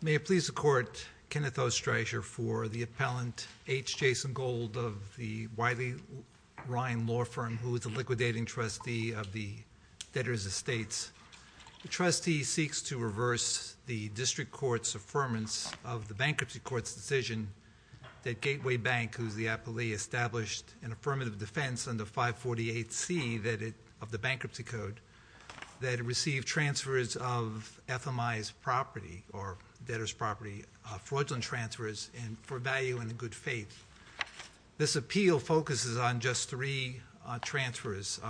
May it please the Court, Kenneth O. Streicher, for the appellant, H. Jason Gold, of the Wiley The trustee seeks to reverse the District Court's affirmance of the Bankruptcy Court's decision that Gateway Bank, who is the appellee, established an affirmative defense under 548C of the Bankruptcy Code that it received transfers of FMI's property, or debtor's property, fraudulent transfers for value and in good faith. This appeal focuses on just three transfers.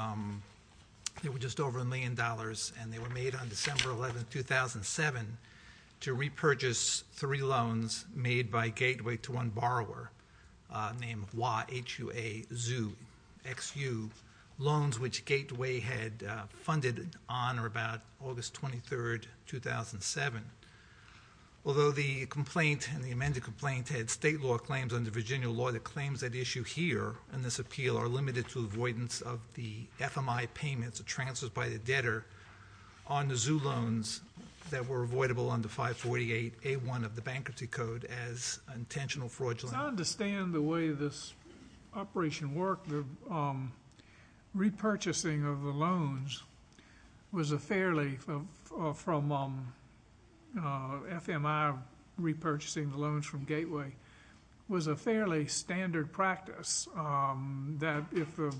They were just over a million dollars, and they were made on December 11, 2007, to repurchase three loans made by Gateway to one borrower named Hua, H-U-A, Zhu, X-U, loans which Gateway had funded on or about August 23, 2007. Although the complaint and the amended complaint had state law claims under Virginia law, the claims at issue here in this appeal are limited to avoidance of the FMI payments, the transfers by the debtor, on the Zhu loans that were avoidable under 548A1 of the Bankruptcy Code as intentional fraudulent. As I understand the way this operation worked, the repurchasing of the loans was a fairly, from FMI repurchasing the loans from Gateway, was a fairly standard practice that if the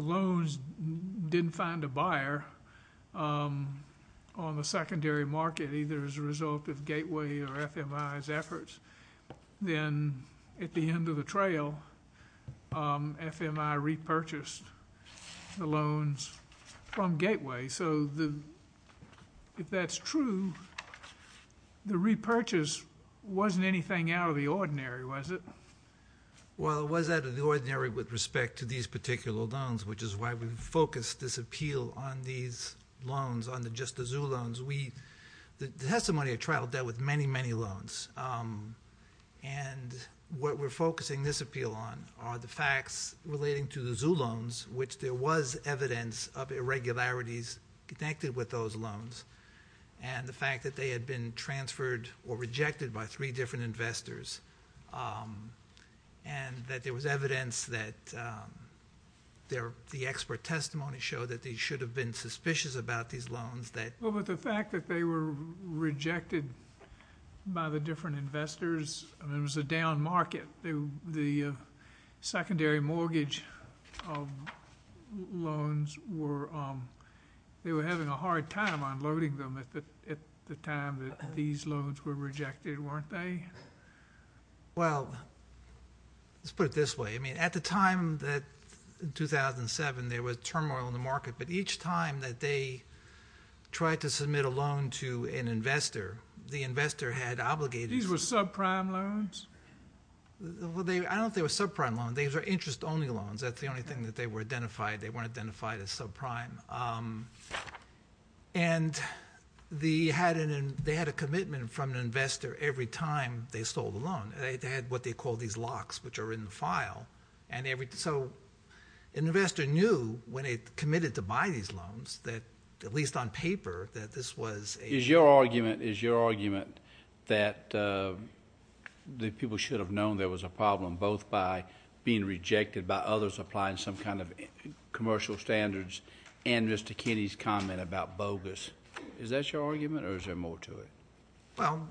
loans didn't find a buyer on the secondary market, either as a result of Gateway or FMI's efforts, then at the end of the trail, FMI repurchased the loans from Gateway. So if that's true, the repurchase wasn't anything out of the ordinary, was it? Well, it was out of the ordinary with respect to these particular loans, which is why we've focused this appeal on these loans, on just the Zhu loans. The testimony I traveled dealt with many, many loans. And what we're focusing this appeal on are the facts relating to the Zhu loans, which there was evidence of irregularities connected with those loans, and the fact that they had been transferred or rejected by three different investors, and that there was evidence that the expert testimony showed that they should have been suspicious about these loans. Well, but the fact that they were rejected by the different investors, I mean, it was a down market. The secondary mortgage loans were, they were having a hard time unloading them at the time that these loans were rejected, weren't they? Well, let's put it this way. I mean, at the time that, in 2007, there was turmoil in the market, but each time that they tried to submit a loan to an investor, the investor had obligated... These were subprime loans? Well, I don't think they were subprime loans. These were interest-only loans. That's the only thing that they were identified. They weren't identified as subprime. And they had a commitment from an investor every time they sold a loan. They had what they called these locks, which are in the file, and every... So an investor knew when they committed to buy these loans that, at least on paper, that this was a... And Mr. Kenney's comment about bogus. Is that your argument, or is there more to it? Well,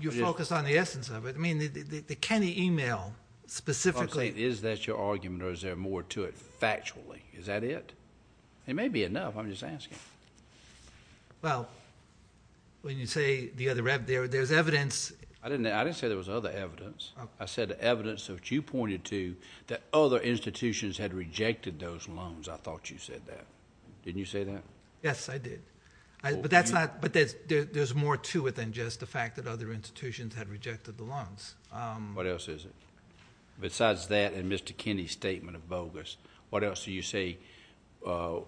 you focus on the essence of it. I mean, the Kenney email specifically... I'm saying, is that your argument, or is there more to it factually? Is that it? It may be enough. I'm just asking. Well, when you say the other... There's evidence... I didn't say there was other evidence. I said the evidence that you pointed to, that other institutions had rejected those loans. I thought you said that. Didn't you say that? Yes, I did. But that's not... But there's more to it than just the fact that other institutions had rejected the loans. What else is it? Besides that and Mr. Kenney's statement of bogus, what else do you say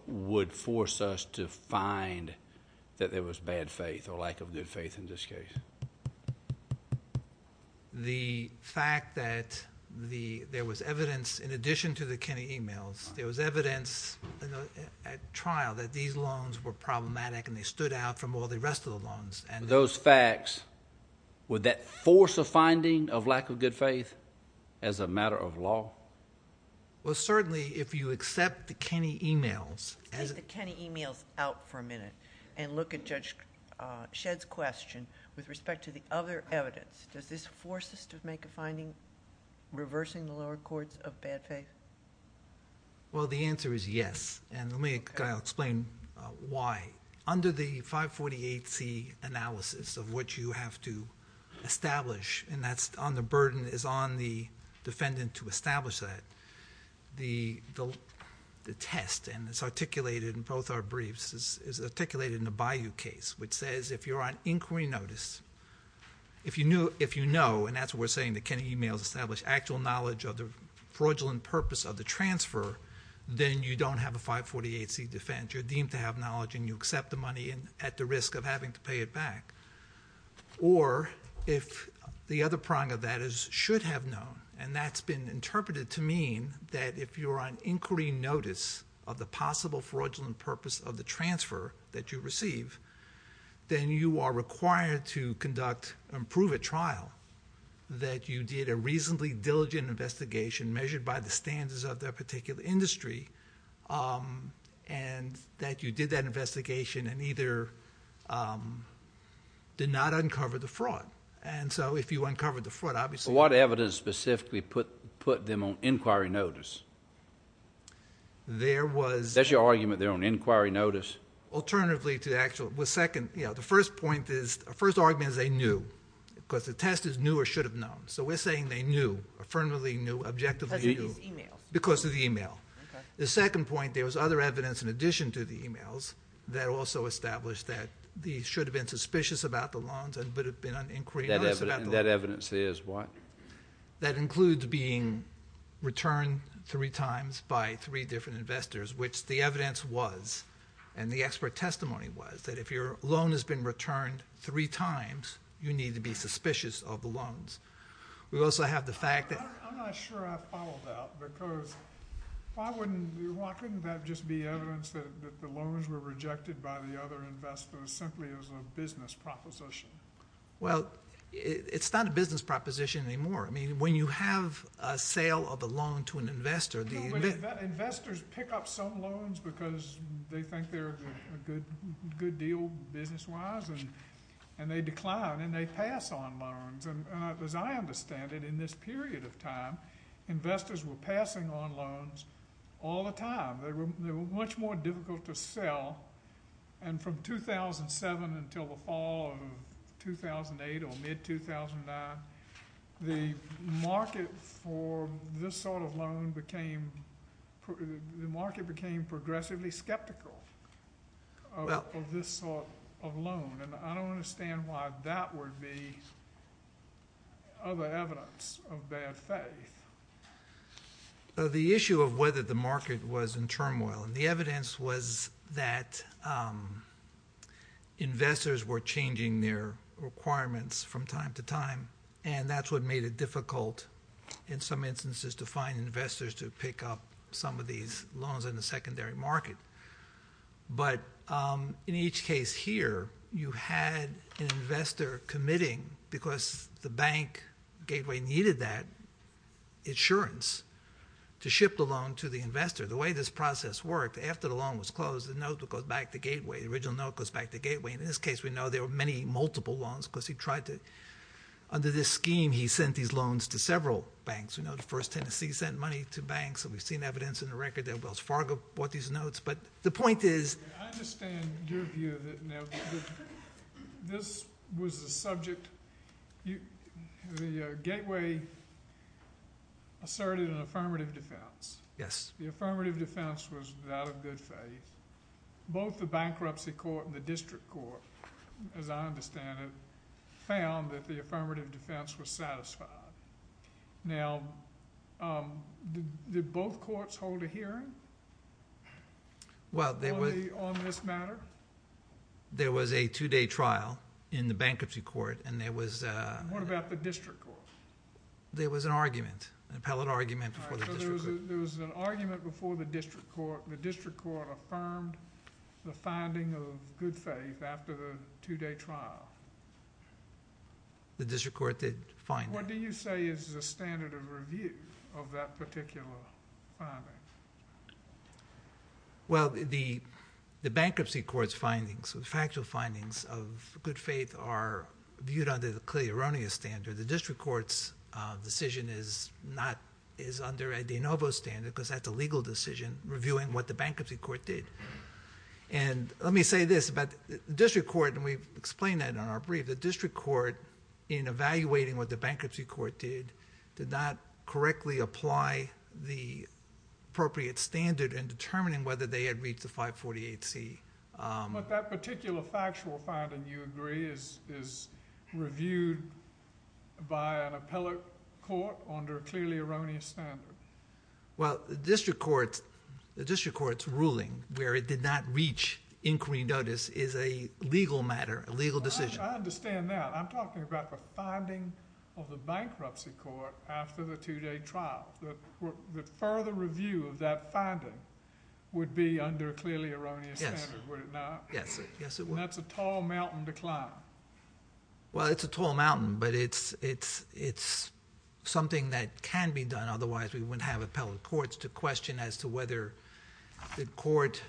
would force us to find that there was bad faith or lack of good faith in this case? The fact that there was evidence, in addition to the Kenney emails, there was evidence at trial that these loans were problematic and they stood out from all the rest of the loans. Those facts, would that force a finding of lack of good faith as a matter of law? Well, certainly, if you accept the Kenney emails... Take the Kenney emails out for a minute and look at Judge Shedd's question with respect to the other evidence. Does this force us to make a finding reversing the lower courts of bad faith? Well, the answer is yes, and let me explain why. Under the 548C analysis of what you have to establish, and the burden is on the defendant to establish that, the test, and it's articulated in both our briefs, is articulated in the Bayou case, which says if you're on inquiry notice, if you know, and that's what we're saying, the Kenney emails establish actual knowledge of the fraudulent purpose of the transfer, then you don't have a 548C defense. You're deemed to have knowledge and you accept the money at the risk of having to pay it back. Or if the other prong of that is should have known, and that's been interpreted to mean that if you're on inquiry notice of the possible fraudulent purpose of the transfer that you receive, then you are required to conduct and prove at trial that you did a reasonably diligent investigation measured by the standards of that particular industry, and that you did that investigation and either did not uncover the fraud. And so if you uncovered the fraud, obviously. What evidence specifically put them on inquiry notice? There was. That's your argument, they're on inquiry notice? Alternatively to the actual, the second, you know, the first point is, the first argument is they knew because the test is knew or should have known. So we're saying they knew, affirmatively knew, objectively knew. Because of these emails. Because of the email. The second point, there was other evidence in addition to the emails that also established that they should have been suspicious about the loans and would have been on inquiry notice about the loans. That evidence is what? That includes being returned three times by three different investors, which the evidence was, and the expert testimony was, that if your loan has been returned three times, you need to be suspicious of the loans. We also have the fact that. I'm not sure I followed that because why wouldn't, why couldn't that just be evidence that the loans were rejected by the other investors simply as a business proposition? Well, it's not a business proposition anymore. I mean, when you have a sale of a loan to an investor. Investors pick up some loans because they think they're a good deal business-wise and they decline and they pass on loans. And as I understand it, in this period of time, investors were passing on loans all the time. They were much more difficult to sell. And from 2007 until the fall of 2008 or mid-2009, the market for this sort of loan became, the market became progressively skeptical of this sort of loan. And I don't understand why that would be other evidence of bad faith. And the evidence was that investors were changing their requirements from time to time, and that's what made it difficult in some instances to find investors to pick up some of these loans in the secondary market. But in each case here, you had an investor committing, because the bank gateway needed that insurance to ship the loan to the investor. The way this process worked, after the loan was closed, the note would go back to gateway. The original note goes back to gateway. In this case, we know there were many multiple loans because he tried to, under this scheme, he sent these loans to several banks. We know the First Tennessee sent money to banks, and we've seen evidence in the record that Wells Fargo bought these notes. But the point is— I understand your view of it now. This was the subject. The gateway asserted an affirmative defense. Yes. The affirmative defense was that of good faith. Both the bankruptcy court and the district court, as I understand it, found that the affirmative defense was satisfied. Now, did both courts hold a hearing on this matter? There was a two-day trial in the bankruptcy court, and there was— What about the district court? There was an argument, an appellate argument before the district court. There was an argument before the district court. The district court affirmed the finding of good faith after the two-day trial. The district court did find that. What do you say is the standard of review of that particular finding? Well, the bankruptcy court's findings, the factual findings of good faith are viewed under the clearly erroneous standard. The district court's decision is under a de novo standard because that's a legal decision, reviewing what the bankruptcy court did. Let me say this about the district court, and we've explained that in our brief. The district court, in evaluating what the bankruptcy court did, did not correctly apply the appropriate standard in determining whether they had reached the 548C. But that particular factual finding, you agree, is reviewed by an appellate court under a clearly erroneous standard? Well, the district court's ruling where it did not reach inquiry notice is a legal matter, a legal decision. I understand that. I'm talking about the finding of the bankruptcy court after the two-day trial. The further review of that finding would be under a clearly erroneous standard, would it not? Yes. And that's a tall mountain to climb. Well, it's a tall mountain, but it's something that can be done. Otherwise, we wouldn't have appellate courts to question as to whether the court,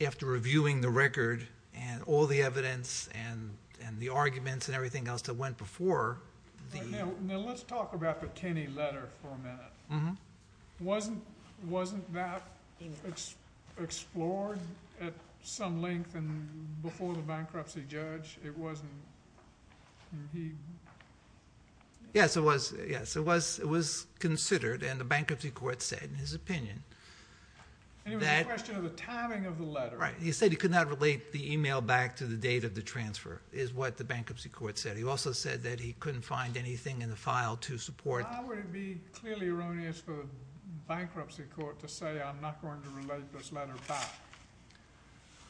after reviewing the record and all the evidence and the arguments and everything else that went before. Now, let's talk about the Kenney letter for a minute. Wasn't that explored at some length before the bankruptcy judge? Yes, it was considered, and the bankruptcy court said in his opinion. And it was a question of the timing of the letter. Right. He said he could not relate the email back to the date of the transfer, is what the bankruptcy court said. But he also said that he couldn't find anything in the file to support that. How would it be clearly erroneous for the bankruptcy court to say, I'm not going to relate this letter back?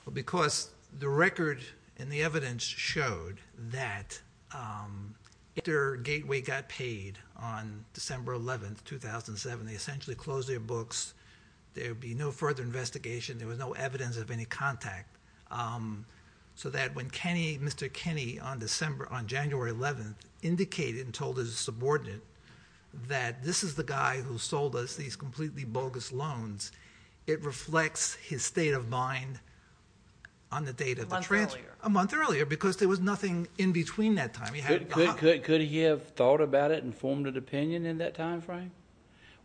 Well, because the record and the evidence showed that after Gateway got paid on December 11, 2007, they essentially closed their books. There would be no further investigation. There was no evidence of any contact. So that when Mr. Kenney on January 11 indicated and told his subordinate that this is the guy who sold us these completely bogus loans, it reflects his state of mind on the date of the transfer. A month earlier. A month earlier, because there was nothing in between that time. Could he have thought about it and formed an opinion in that time frame?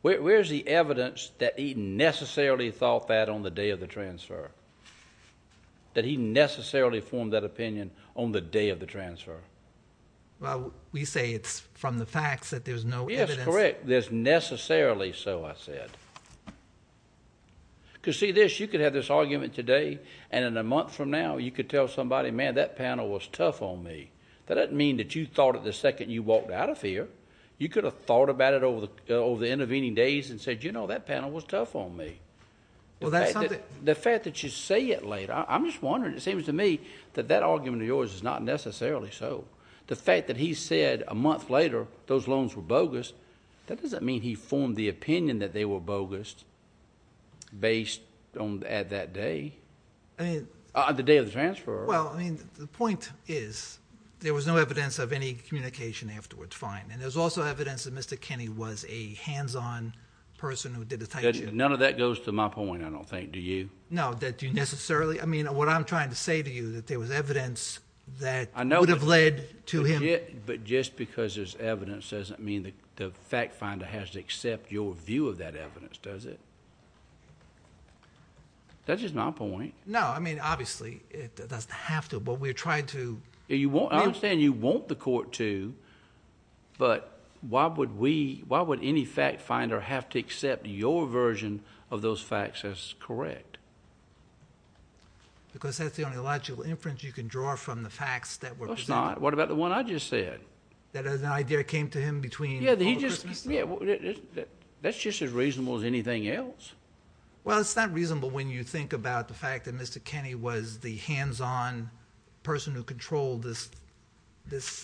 Where's the evidence that he necessarily thought that on the day of the transfer? That he necessarily formed that opinion on the day of the transfer? Well, we say it's from the facts that there's no evidence. Yes, correct. There's necessarily so, I said. Because see this, you could have this argument today, and in a month from now you could tell somebody, man, that panel was tough on me. That doesn't mean that you thought it the second you walked out of here. You could have thought about it over the intervening days and said, you know, that panel was tough on me. The fact that you say it later, I'm just wondering, it seems to me that that argument of yours is not necessarily so. The fact that he said a month later those loans were bogus, that doesn't mean he formed the opinion that they were bogus based at that day. I mean. The day of the transfer. Well, I mean, the point is there was no evidence of any communication afterwards. That's fine. And there's also evidence that Mr. Kenny was a hands-on person who did a type two. None of that goes to my point, I don't think, do you? No, that you necessarily, I mean, what I'm trying to say to you that there was evidence that would have led to him. But just because there's evidence doesn't mean the fact finder has to accept your view of that evidence, does it? That's just my point. No, I mean, obviously, it doesn't have to, but we're trying to. I understand you want the court to, but why would we, why would any fact finder have to accept your version of those facts as correct? Because that's the only logical inference you can draw from the facts that were presented. No, it's not. What about the one I just said? That as an idea came to him between Christmas time. That's just as reasonable as anything else. Well, it's not reasonable when you think about the fact that Mr. Kenny was the hands-on person who controlled this.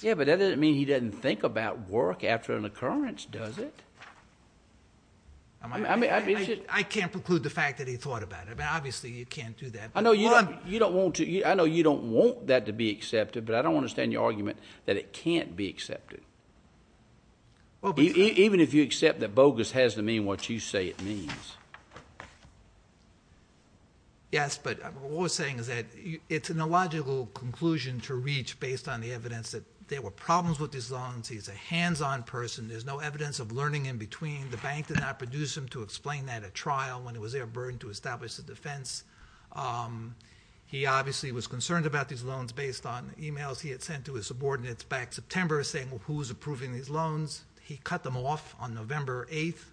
Yeah, but that doesn't mean he doesn't think about work after an occurrence, does it? I can't preclude the fact that he thought about it. Obviously, you can't do that. I know you don't want that to be accepted, but I don't understand your argument that it can't be accepted. Even if you accept that bogus has to mean what you say it means. Yes, but what we're saying is that it's an illogical conclusion to reach based on the evidence that there were problems with these loans. He's a hands-on person. There's no evidence of learning in between. The bank did not produce him to explain that at trial when it was their burden to establish the defense. He obviously was concerned about these loans based on emails he had sent to his subordinates back in September saying who was approving these loans. He cut them off on November 8th.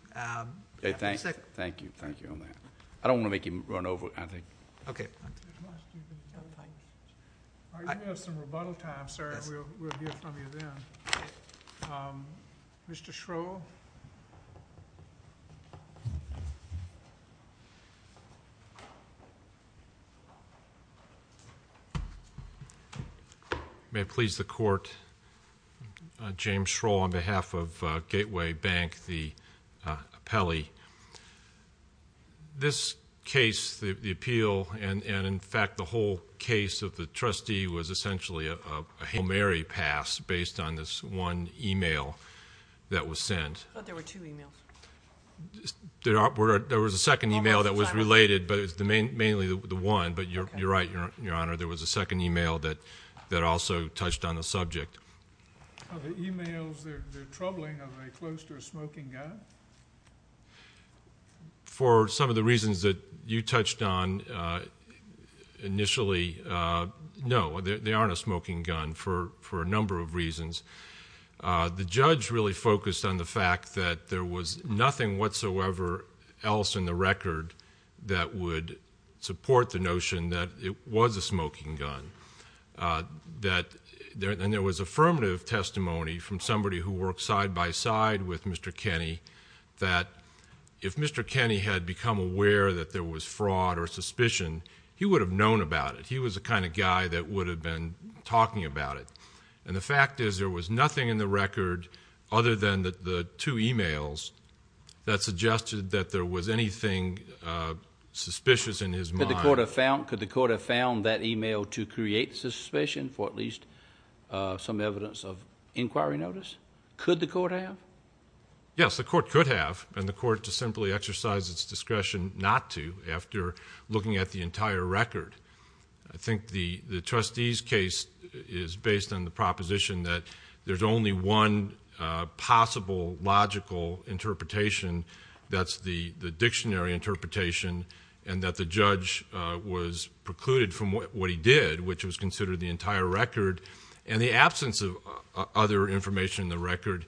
Thank you. Thank you on that. I don't want to make him run over, I think. Okay. You have some rebuttal time, sir. We'll hear from you then. Mr. Schroll. May it please the court, James Schroll on behalf of Gateway Bank, the appellee. This case, the appeal, and, in fact, the whole case of the trustee was essentially a Hail Mary pass based on this one email that was sent. There were two emails. There was a second email that was related, but it was mainly the one, but you're right, Your Honor. There was a second email that also touched on the subject. Are the emails troubling? Are they close to a smoking gun? For some of the reasons that you touched on initially, no, they aren't a smoking gun for a number of reasons. The judge really focused on the fact that there was nothing whatsoever else in the record that would support the notion that it was a smoking gun. And there was affirmative testimony from somebody who worked side-by-side with Mr. Kenney that if Mr. Kenney had become aware that there was fraud or suspicion, he would have known about it. He was the kind of guy that would have been talking about it. And the fact is there was nothing in the record other than the two emails that suggested that there was anything suspicious in his mind. Could the court have found that email to create suspicion for at least some evidence of inquiry notice? Could the court have? Yes, the court could have, and the court to simply exercise its discretion not to after looking at the entire record. I think the trustee's case is based on the proposition that there's only one possible logical interpretation. That's the dictionary interpretation and that the judge was precluded from what he did, which was considered the entire record, and the absence of other information in the record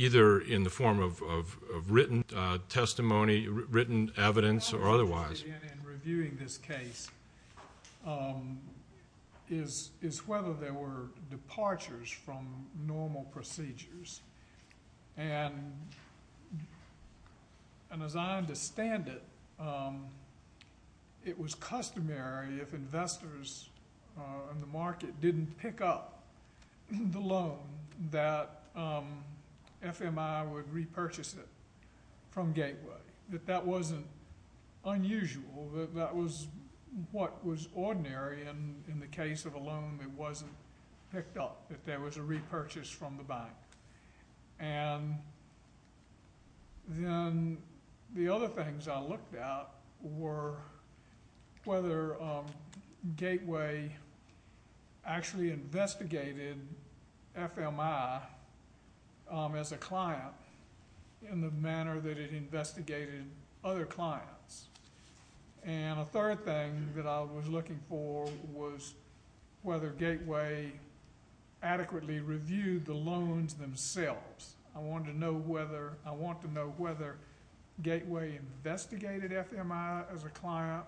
either in the form of written testimony, written evidence, or otherwise. What I'm interested in in reviewing this case is whether there were departures from normal procedures. And as I understand it, it was customary if investors in the market didn't pick up the loan that FMI would repurchase it from Gateway. That that wasn't unusual, that that was what was ordinary, and in the case of a loan that wasn't picked up, that there was a repurchase from the bank. And then the other things I looked at were whether Gateway actually investigated FMI as a client in the manner that it investigated other clients. And a third thing that I was looking for was whether Gateway adequately reviewed the loans themselves. I want to know whether Gateway investigated FMI as a client,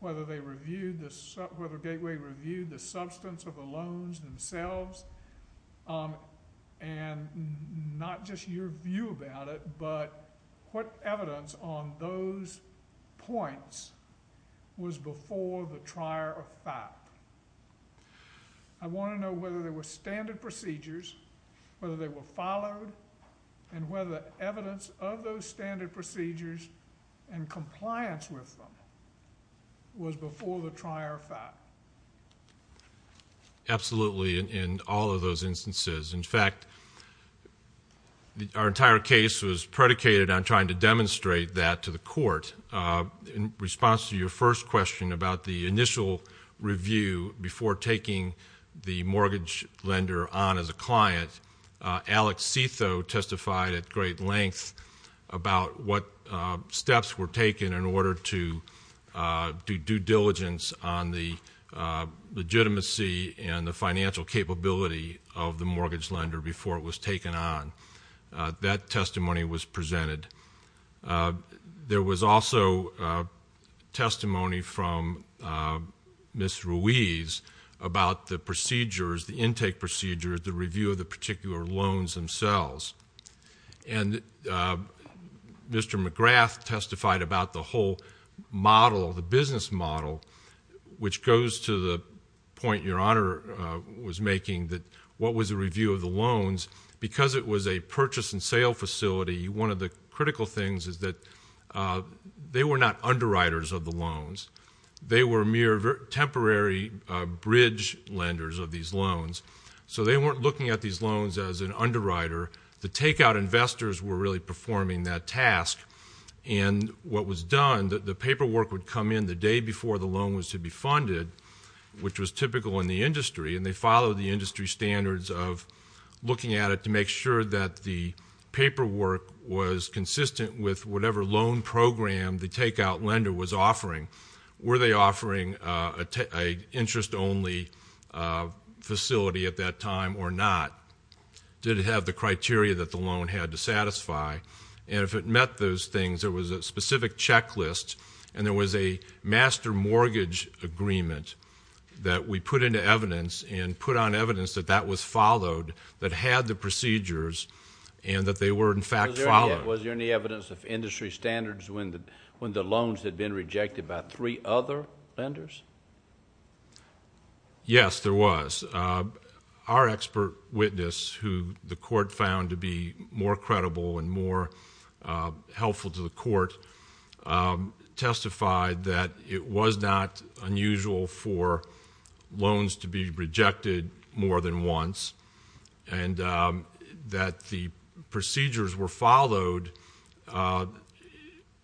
whether Gateway reviewed the substance of the loans themselves. And not just your view about it, but what evidence on those points was before the trier of fact. I want to know whether there were standard procedures, whether they were followed, and whether evidence of those standard procedures and compliance with them was before the trier of fact. Absolutely, in all of those instances. In fact, our entire case was predicated on trying to demonstrate that to the court. In response to your first question about the initial review before taking the mortgage lender on as a client, Alex Setho testified at great length about what steps were taken in order to do due diligence on the legitimacy and the financial capability of the mortgage lender before it was taken on. That testimony was presented. There was also testimony from Ms. Ruiz about the procedures, the intake procedures, the review of the particular loans themselves. And Mr. McGrath testified about the whole model, the business model, which goes to the point your Honor was making that what was the review of the loans. Because it was a purchase and sale facility, one of the critical things is that they were not underwriters of the loans. They were mere temporary bridge lenders of these loans. So they weren't looking at these loans as an underwriter. The takeout investors were really performing that task. And what was done, the paperwork would come in the day before the loan was to be funded, which was typical in the industry. And they followed the industry standards of looking at it to make sure that the paperwork was consistent with whatever loan program the takeout lender was offering. Were they offering an interest-only facility at that time or not? Did it have the criteria that the loan had to satisfy? And if it met those things, there was a specific checklist and there was a master mortgage agreement that we put into evidence and put on evidence that that was followed, that had the procedures, and that they were, in fact, followed. Was there any evidence of industry standards when the loans had been rejected by three other lenders? Yes, there was. Our expert witness, who the court found to be more credible and more helpful to the court, testified that it was not unusual for loans to be rejected more than once and that the procedures were followed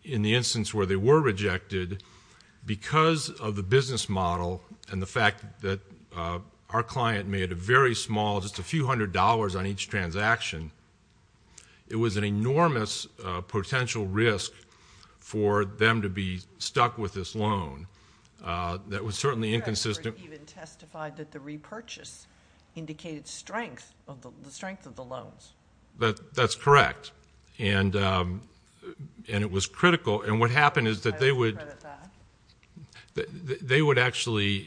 in the instance where they were rejected because of the business model and the fact that our client made a very small, just a few hundred dollars on each transaction. It was an enormous potential risk for them to be stuck with this loan that was certainly inconsistent. Your expert even testified that the repurchase indicated the strength of the loans. That's correct, and it was critical. And what happened is that they would actually,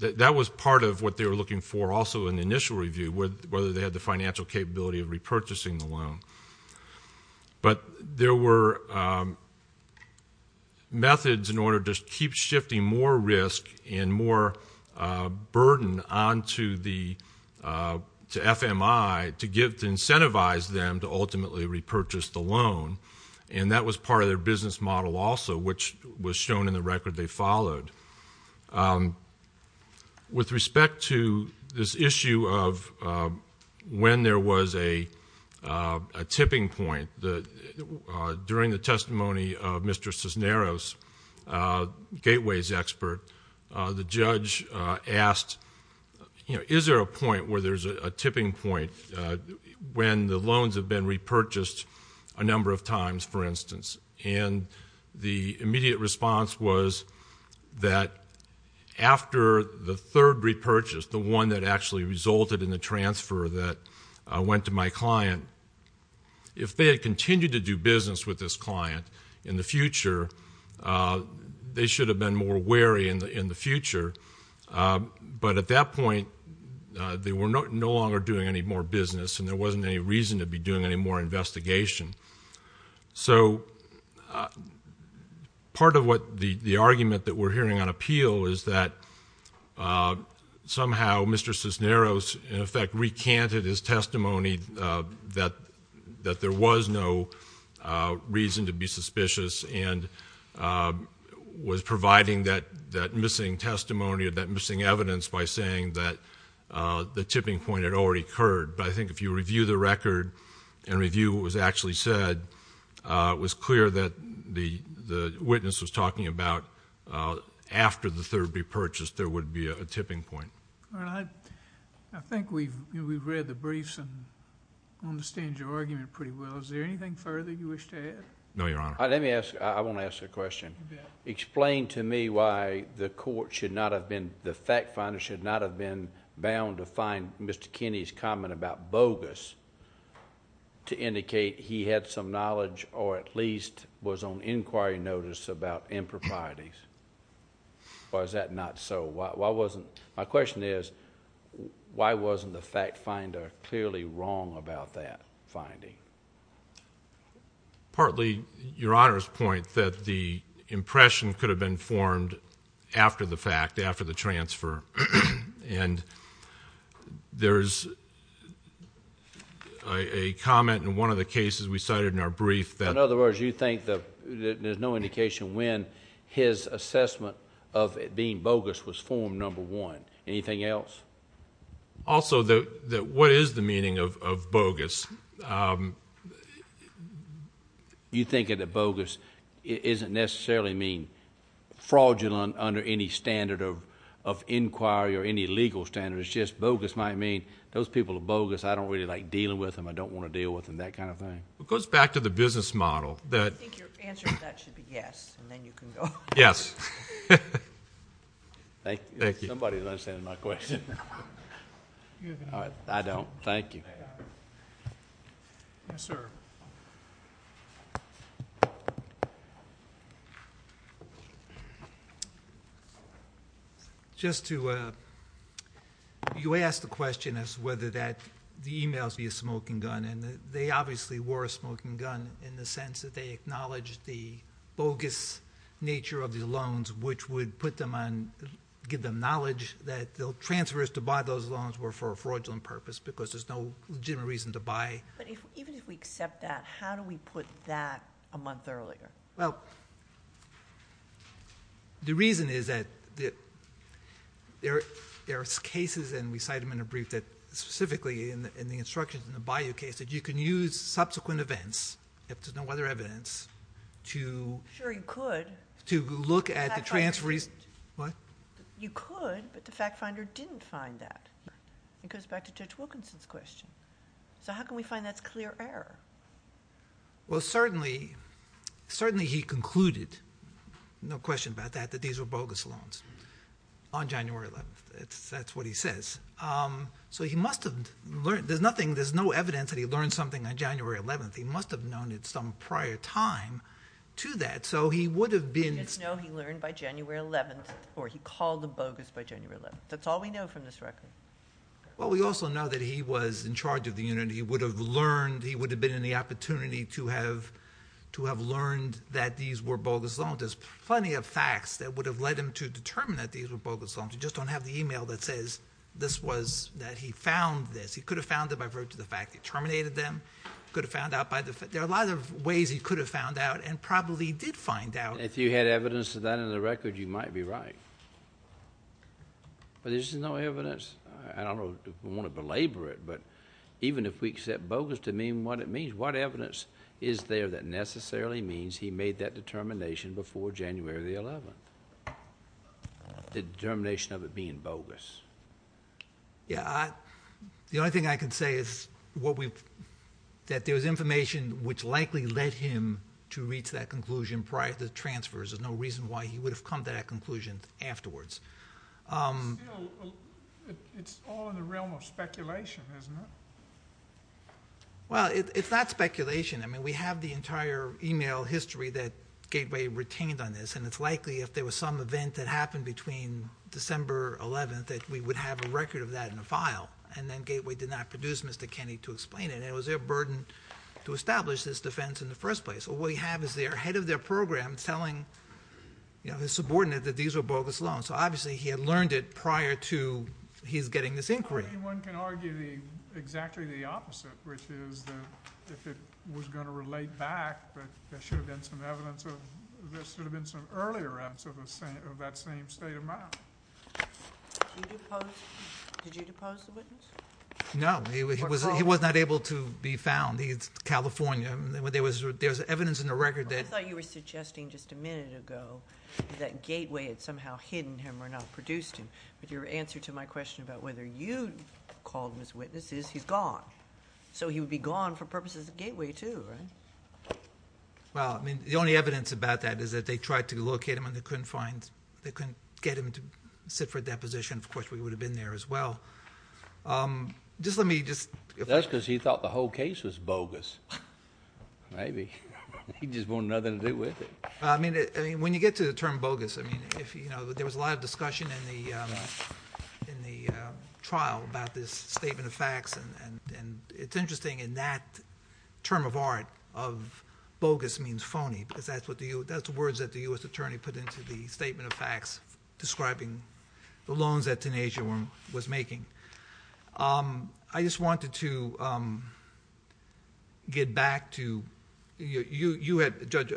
that was part of what they were looking for also in the initial review, whether they had the financial capability of repurchasing the loan. But there were methods in order to keep shifting more risk and more burden onto FMI to incentivize them to ultimately repurchase the loan, and that was part of their business model also, which was shown in the record they followed. With respect to this issue of when there was a tipping point, during the testimony of Mr. Cisneros, Gateway's expert, the judge asked, you know, is there a point where there's a tipping point when the loans have been repurchased a number of times, for instance? And the immediate response was that after the third repurchase, the one that actually resulted in the transfer that went to my client, if they had continued to do business with this client in the future, they should have been more wary in the future. But at that point they were no longer doing any more business and there wasn't any reason to be doing any more investigation. So part of what the argument that we're hearing on appeal is that somehow Mr. Cisneros, in effect, recanted his testimony that there was no reason to be suspicious and was providing that missing testimony or that missing evidence by saying that the tipping point had already occurred. But I think if you review the record and review what was actually said, it was clear that the witness was talking about after the third repurchase there would be a tipping point. All right. I think we've read the briefs and understand your argument pretty well. Is there anything further you wish to add? No, Your Honor. Let me ask, I want to ask a question. Explain to me why the court should not have been, the fact finder should not have been bound to find Mr. Kinney's comment about bogus to indicate he had some knowledge or at least was on inquiry notice about improprieties. Or is that not so? My question is why wasn't the fact finder clearly wrong about that finding? Partly, Your Honor's point that the impression could have been formed after the fact, after the transfer. And there's a comment in one of the cases we cited in our brief that... In other words, you think there's no indication when his assessment of it being bogus was formed, number one. Anything else? Also, what is the meaning of bogus? You think that bogus doesn't necessarily mean fraudulent under any standard of inquiry or any legal standard. It's just bogus might mean those people are bogus. I don't really like dealing with them. I don't want to deal with them, that kind of thing. It goes back to the business model. I think your answer to that should be yes, and then you can go. Yes. Thank you. Somebody is understanding my question. I don't. Thank you. Yes, sir. Just to... You asked the question as to whether the e-mails be a smoking gun. And they obviously were a smoking gun in the sense that they acknowledged the bogus nature of the loans, which would put them on... give them knowledge that the transfers to buy those loans were for a fraudulent purpose because there's no legitimate reason to buy. But even if we accept that, how do we put that a month earlier? Well, the reason is that there are cases, and we cite them in a brief, that specifically in the instructions in the Bayou case that you can use subsequent events, if there's no other evidence, to... Sure, you could... to look at the transfer... You could, but the fact finder didn't find that. It goes back to Judge Wilkinson's question. So how can we find that's clear error? Well, certainly he concluded, no question about that, that these were bogus loans on January 11th. That's what he says. So he must have learned... there's nothing... there's no evidence that he learned something on January 11th. He must have known at some prior time to that. So he would have been... No, he learned by January 11th, or he called the bogus by January 11th. That's all we know from this record. Well, we also know that he was in charge of the unit. He would have learned... he would have been in the opportunity to have learned that these were bogus loans. There's plenty of facts that would have led him to determine that these were bogus loans. You just don't have the email that says this was... that he found this. He could have found it by virtue of the fact he terminated them. He could have found out by... there are a lot of ways he could have found out and probably did find out. If you had evidence of that in the record, you might be right. But there's no evidence... I don't want to belabor it, but even if we accept bogus to mean what it means, what evidence is there that necessarily means he made that determination before January 11th? The determination of it being bogus. Yeah. The only thing I can say is what we've... that there's information which likely led him to reach that conclusion prior to the transfers. There's no reason why he would have come to that conclusion afterwards. Still, it's all in the realm of speculation, isn't it? Well, it's not speculation. I mean, we have the entire email history that Gateway retained on this, and it's likely if there was some event that happened between December 11th that we would have a record of that in a file, and then Gateway did not produce Mr. Kenney to explain it. It was their burden to establish this defense in the first place. All we have is the head of their program telling his subordinate that these were bogus loans. So obviously he had learned it prior to his getting this inquiry. One can argue exactly the opposite, which is that if it was going to relate back, there should have been some evidence of... there should have been some earlier evidence of that same state of mind. Did you depose the witness? No. He was not able to be found. It's California. There was evidence in the record that... I thought you were suggesting just a minute ago that Gateway had somehow hidden him or not produced him, but your answer to my question about whether you called him as a witness is he's gone. So he would be gone for purposes of Gateway too, right? The only evidence about that is that they tried to locate him and they couldn't get him to sit for deposition. Of course, we would have been there as well. Just let me... That's because he thought the whole case was bogus. Maybe. He just wanted nothing to do with it. When you get to the term bogus, there was a lot of discussion in the trial about this statement of facts, and it's interesting in that term of art, bogus means phony, because that's the words that the U.S. attorney put into the statement of facts describing the loans that Tunisia was making. I just wanted to get back to... You had, Judge,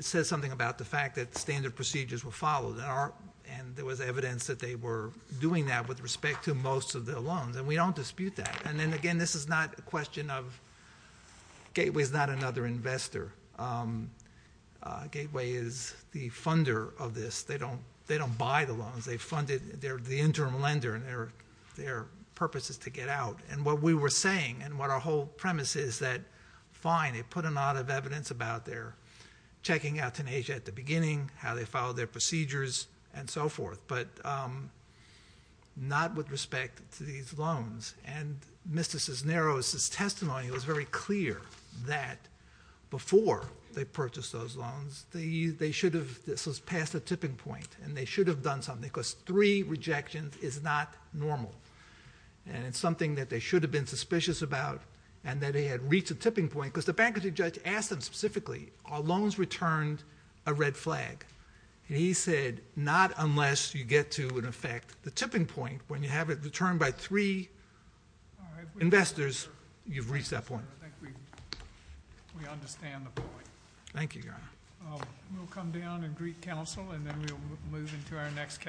said something about the fact that standard procedures were followed, and there was evidence that they were doing that with respect to most of the loans, and we don't dispute that. And then again, this is not a question of... Gateway is not another investor. Gateway is the funder of this. They don't buy the loans. They funded... They're the interim lender, and their purpose is to get out. And what we were saying and what our whole premise is that, fine, they put a lot of evidence about their checking out Tunisia at the beginning, how they followed their procedures, and so forth, but not with respect to these loans. And Mr. Cisneros' testimony was very clear that before they purchased those loans, they should have... this was past the tipping point, and they should have done something because three rejections is not normal, and it's something that they should have been suspicious about, and that they had reached a tipping point because the bankruptcy judge asked them specifically, are loans returned a red flag? And he said, not unless you get to, in effect, the tipping point. When you have it returned by three investors, you've reached that point. I think we understand the point. Thank you, Your Honor. We'll come down and greet counsel, and then we'll move into our next case.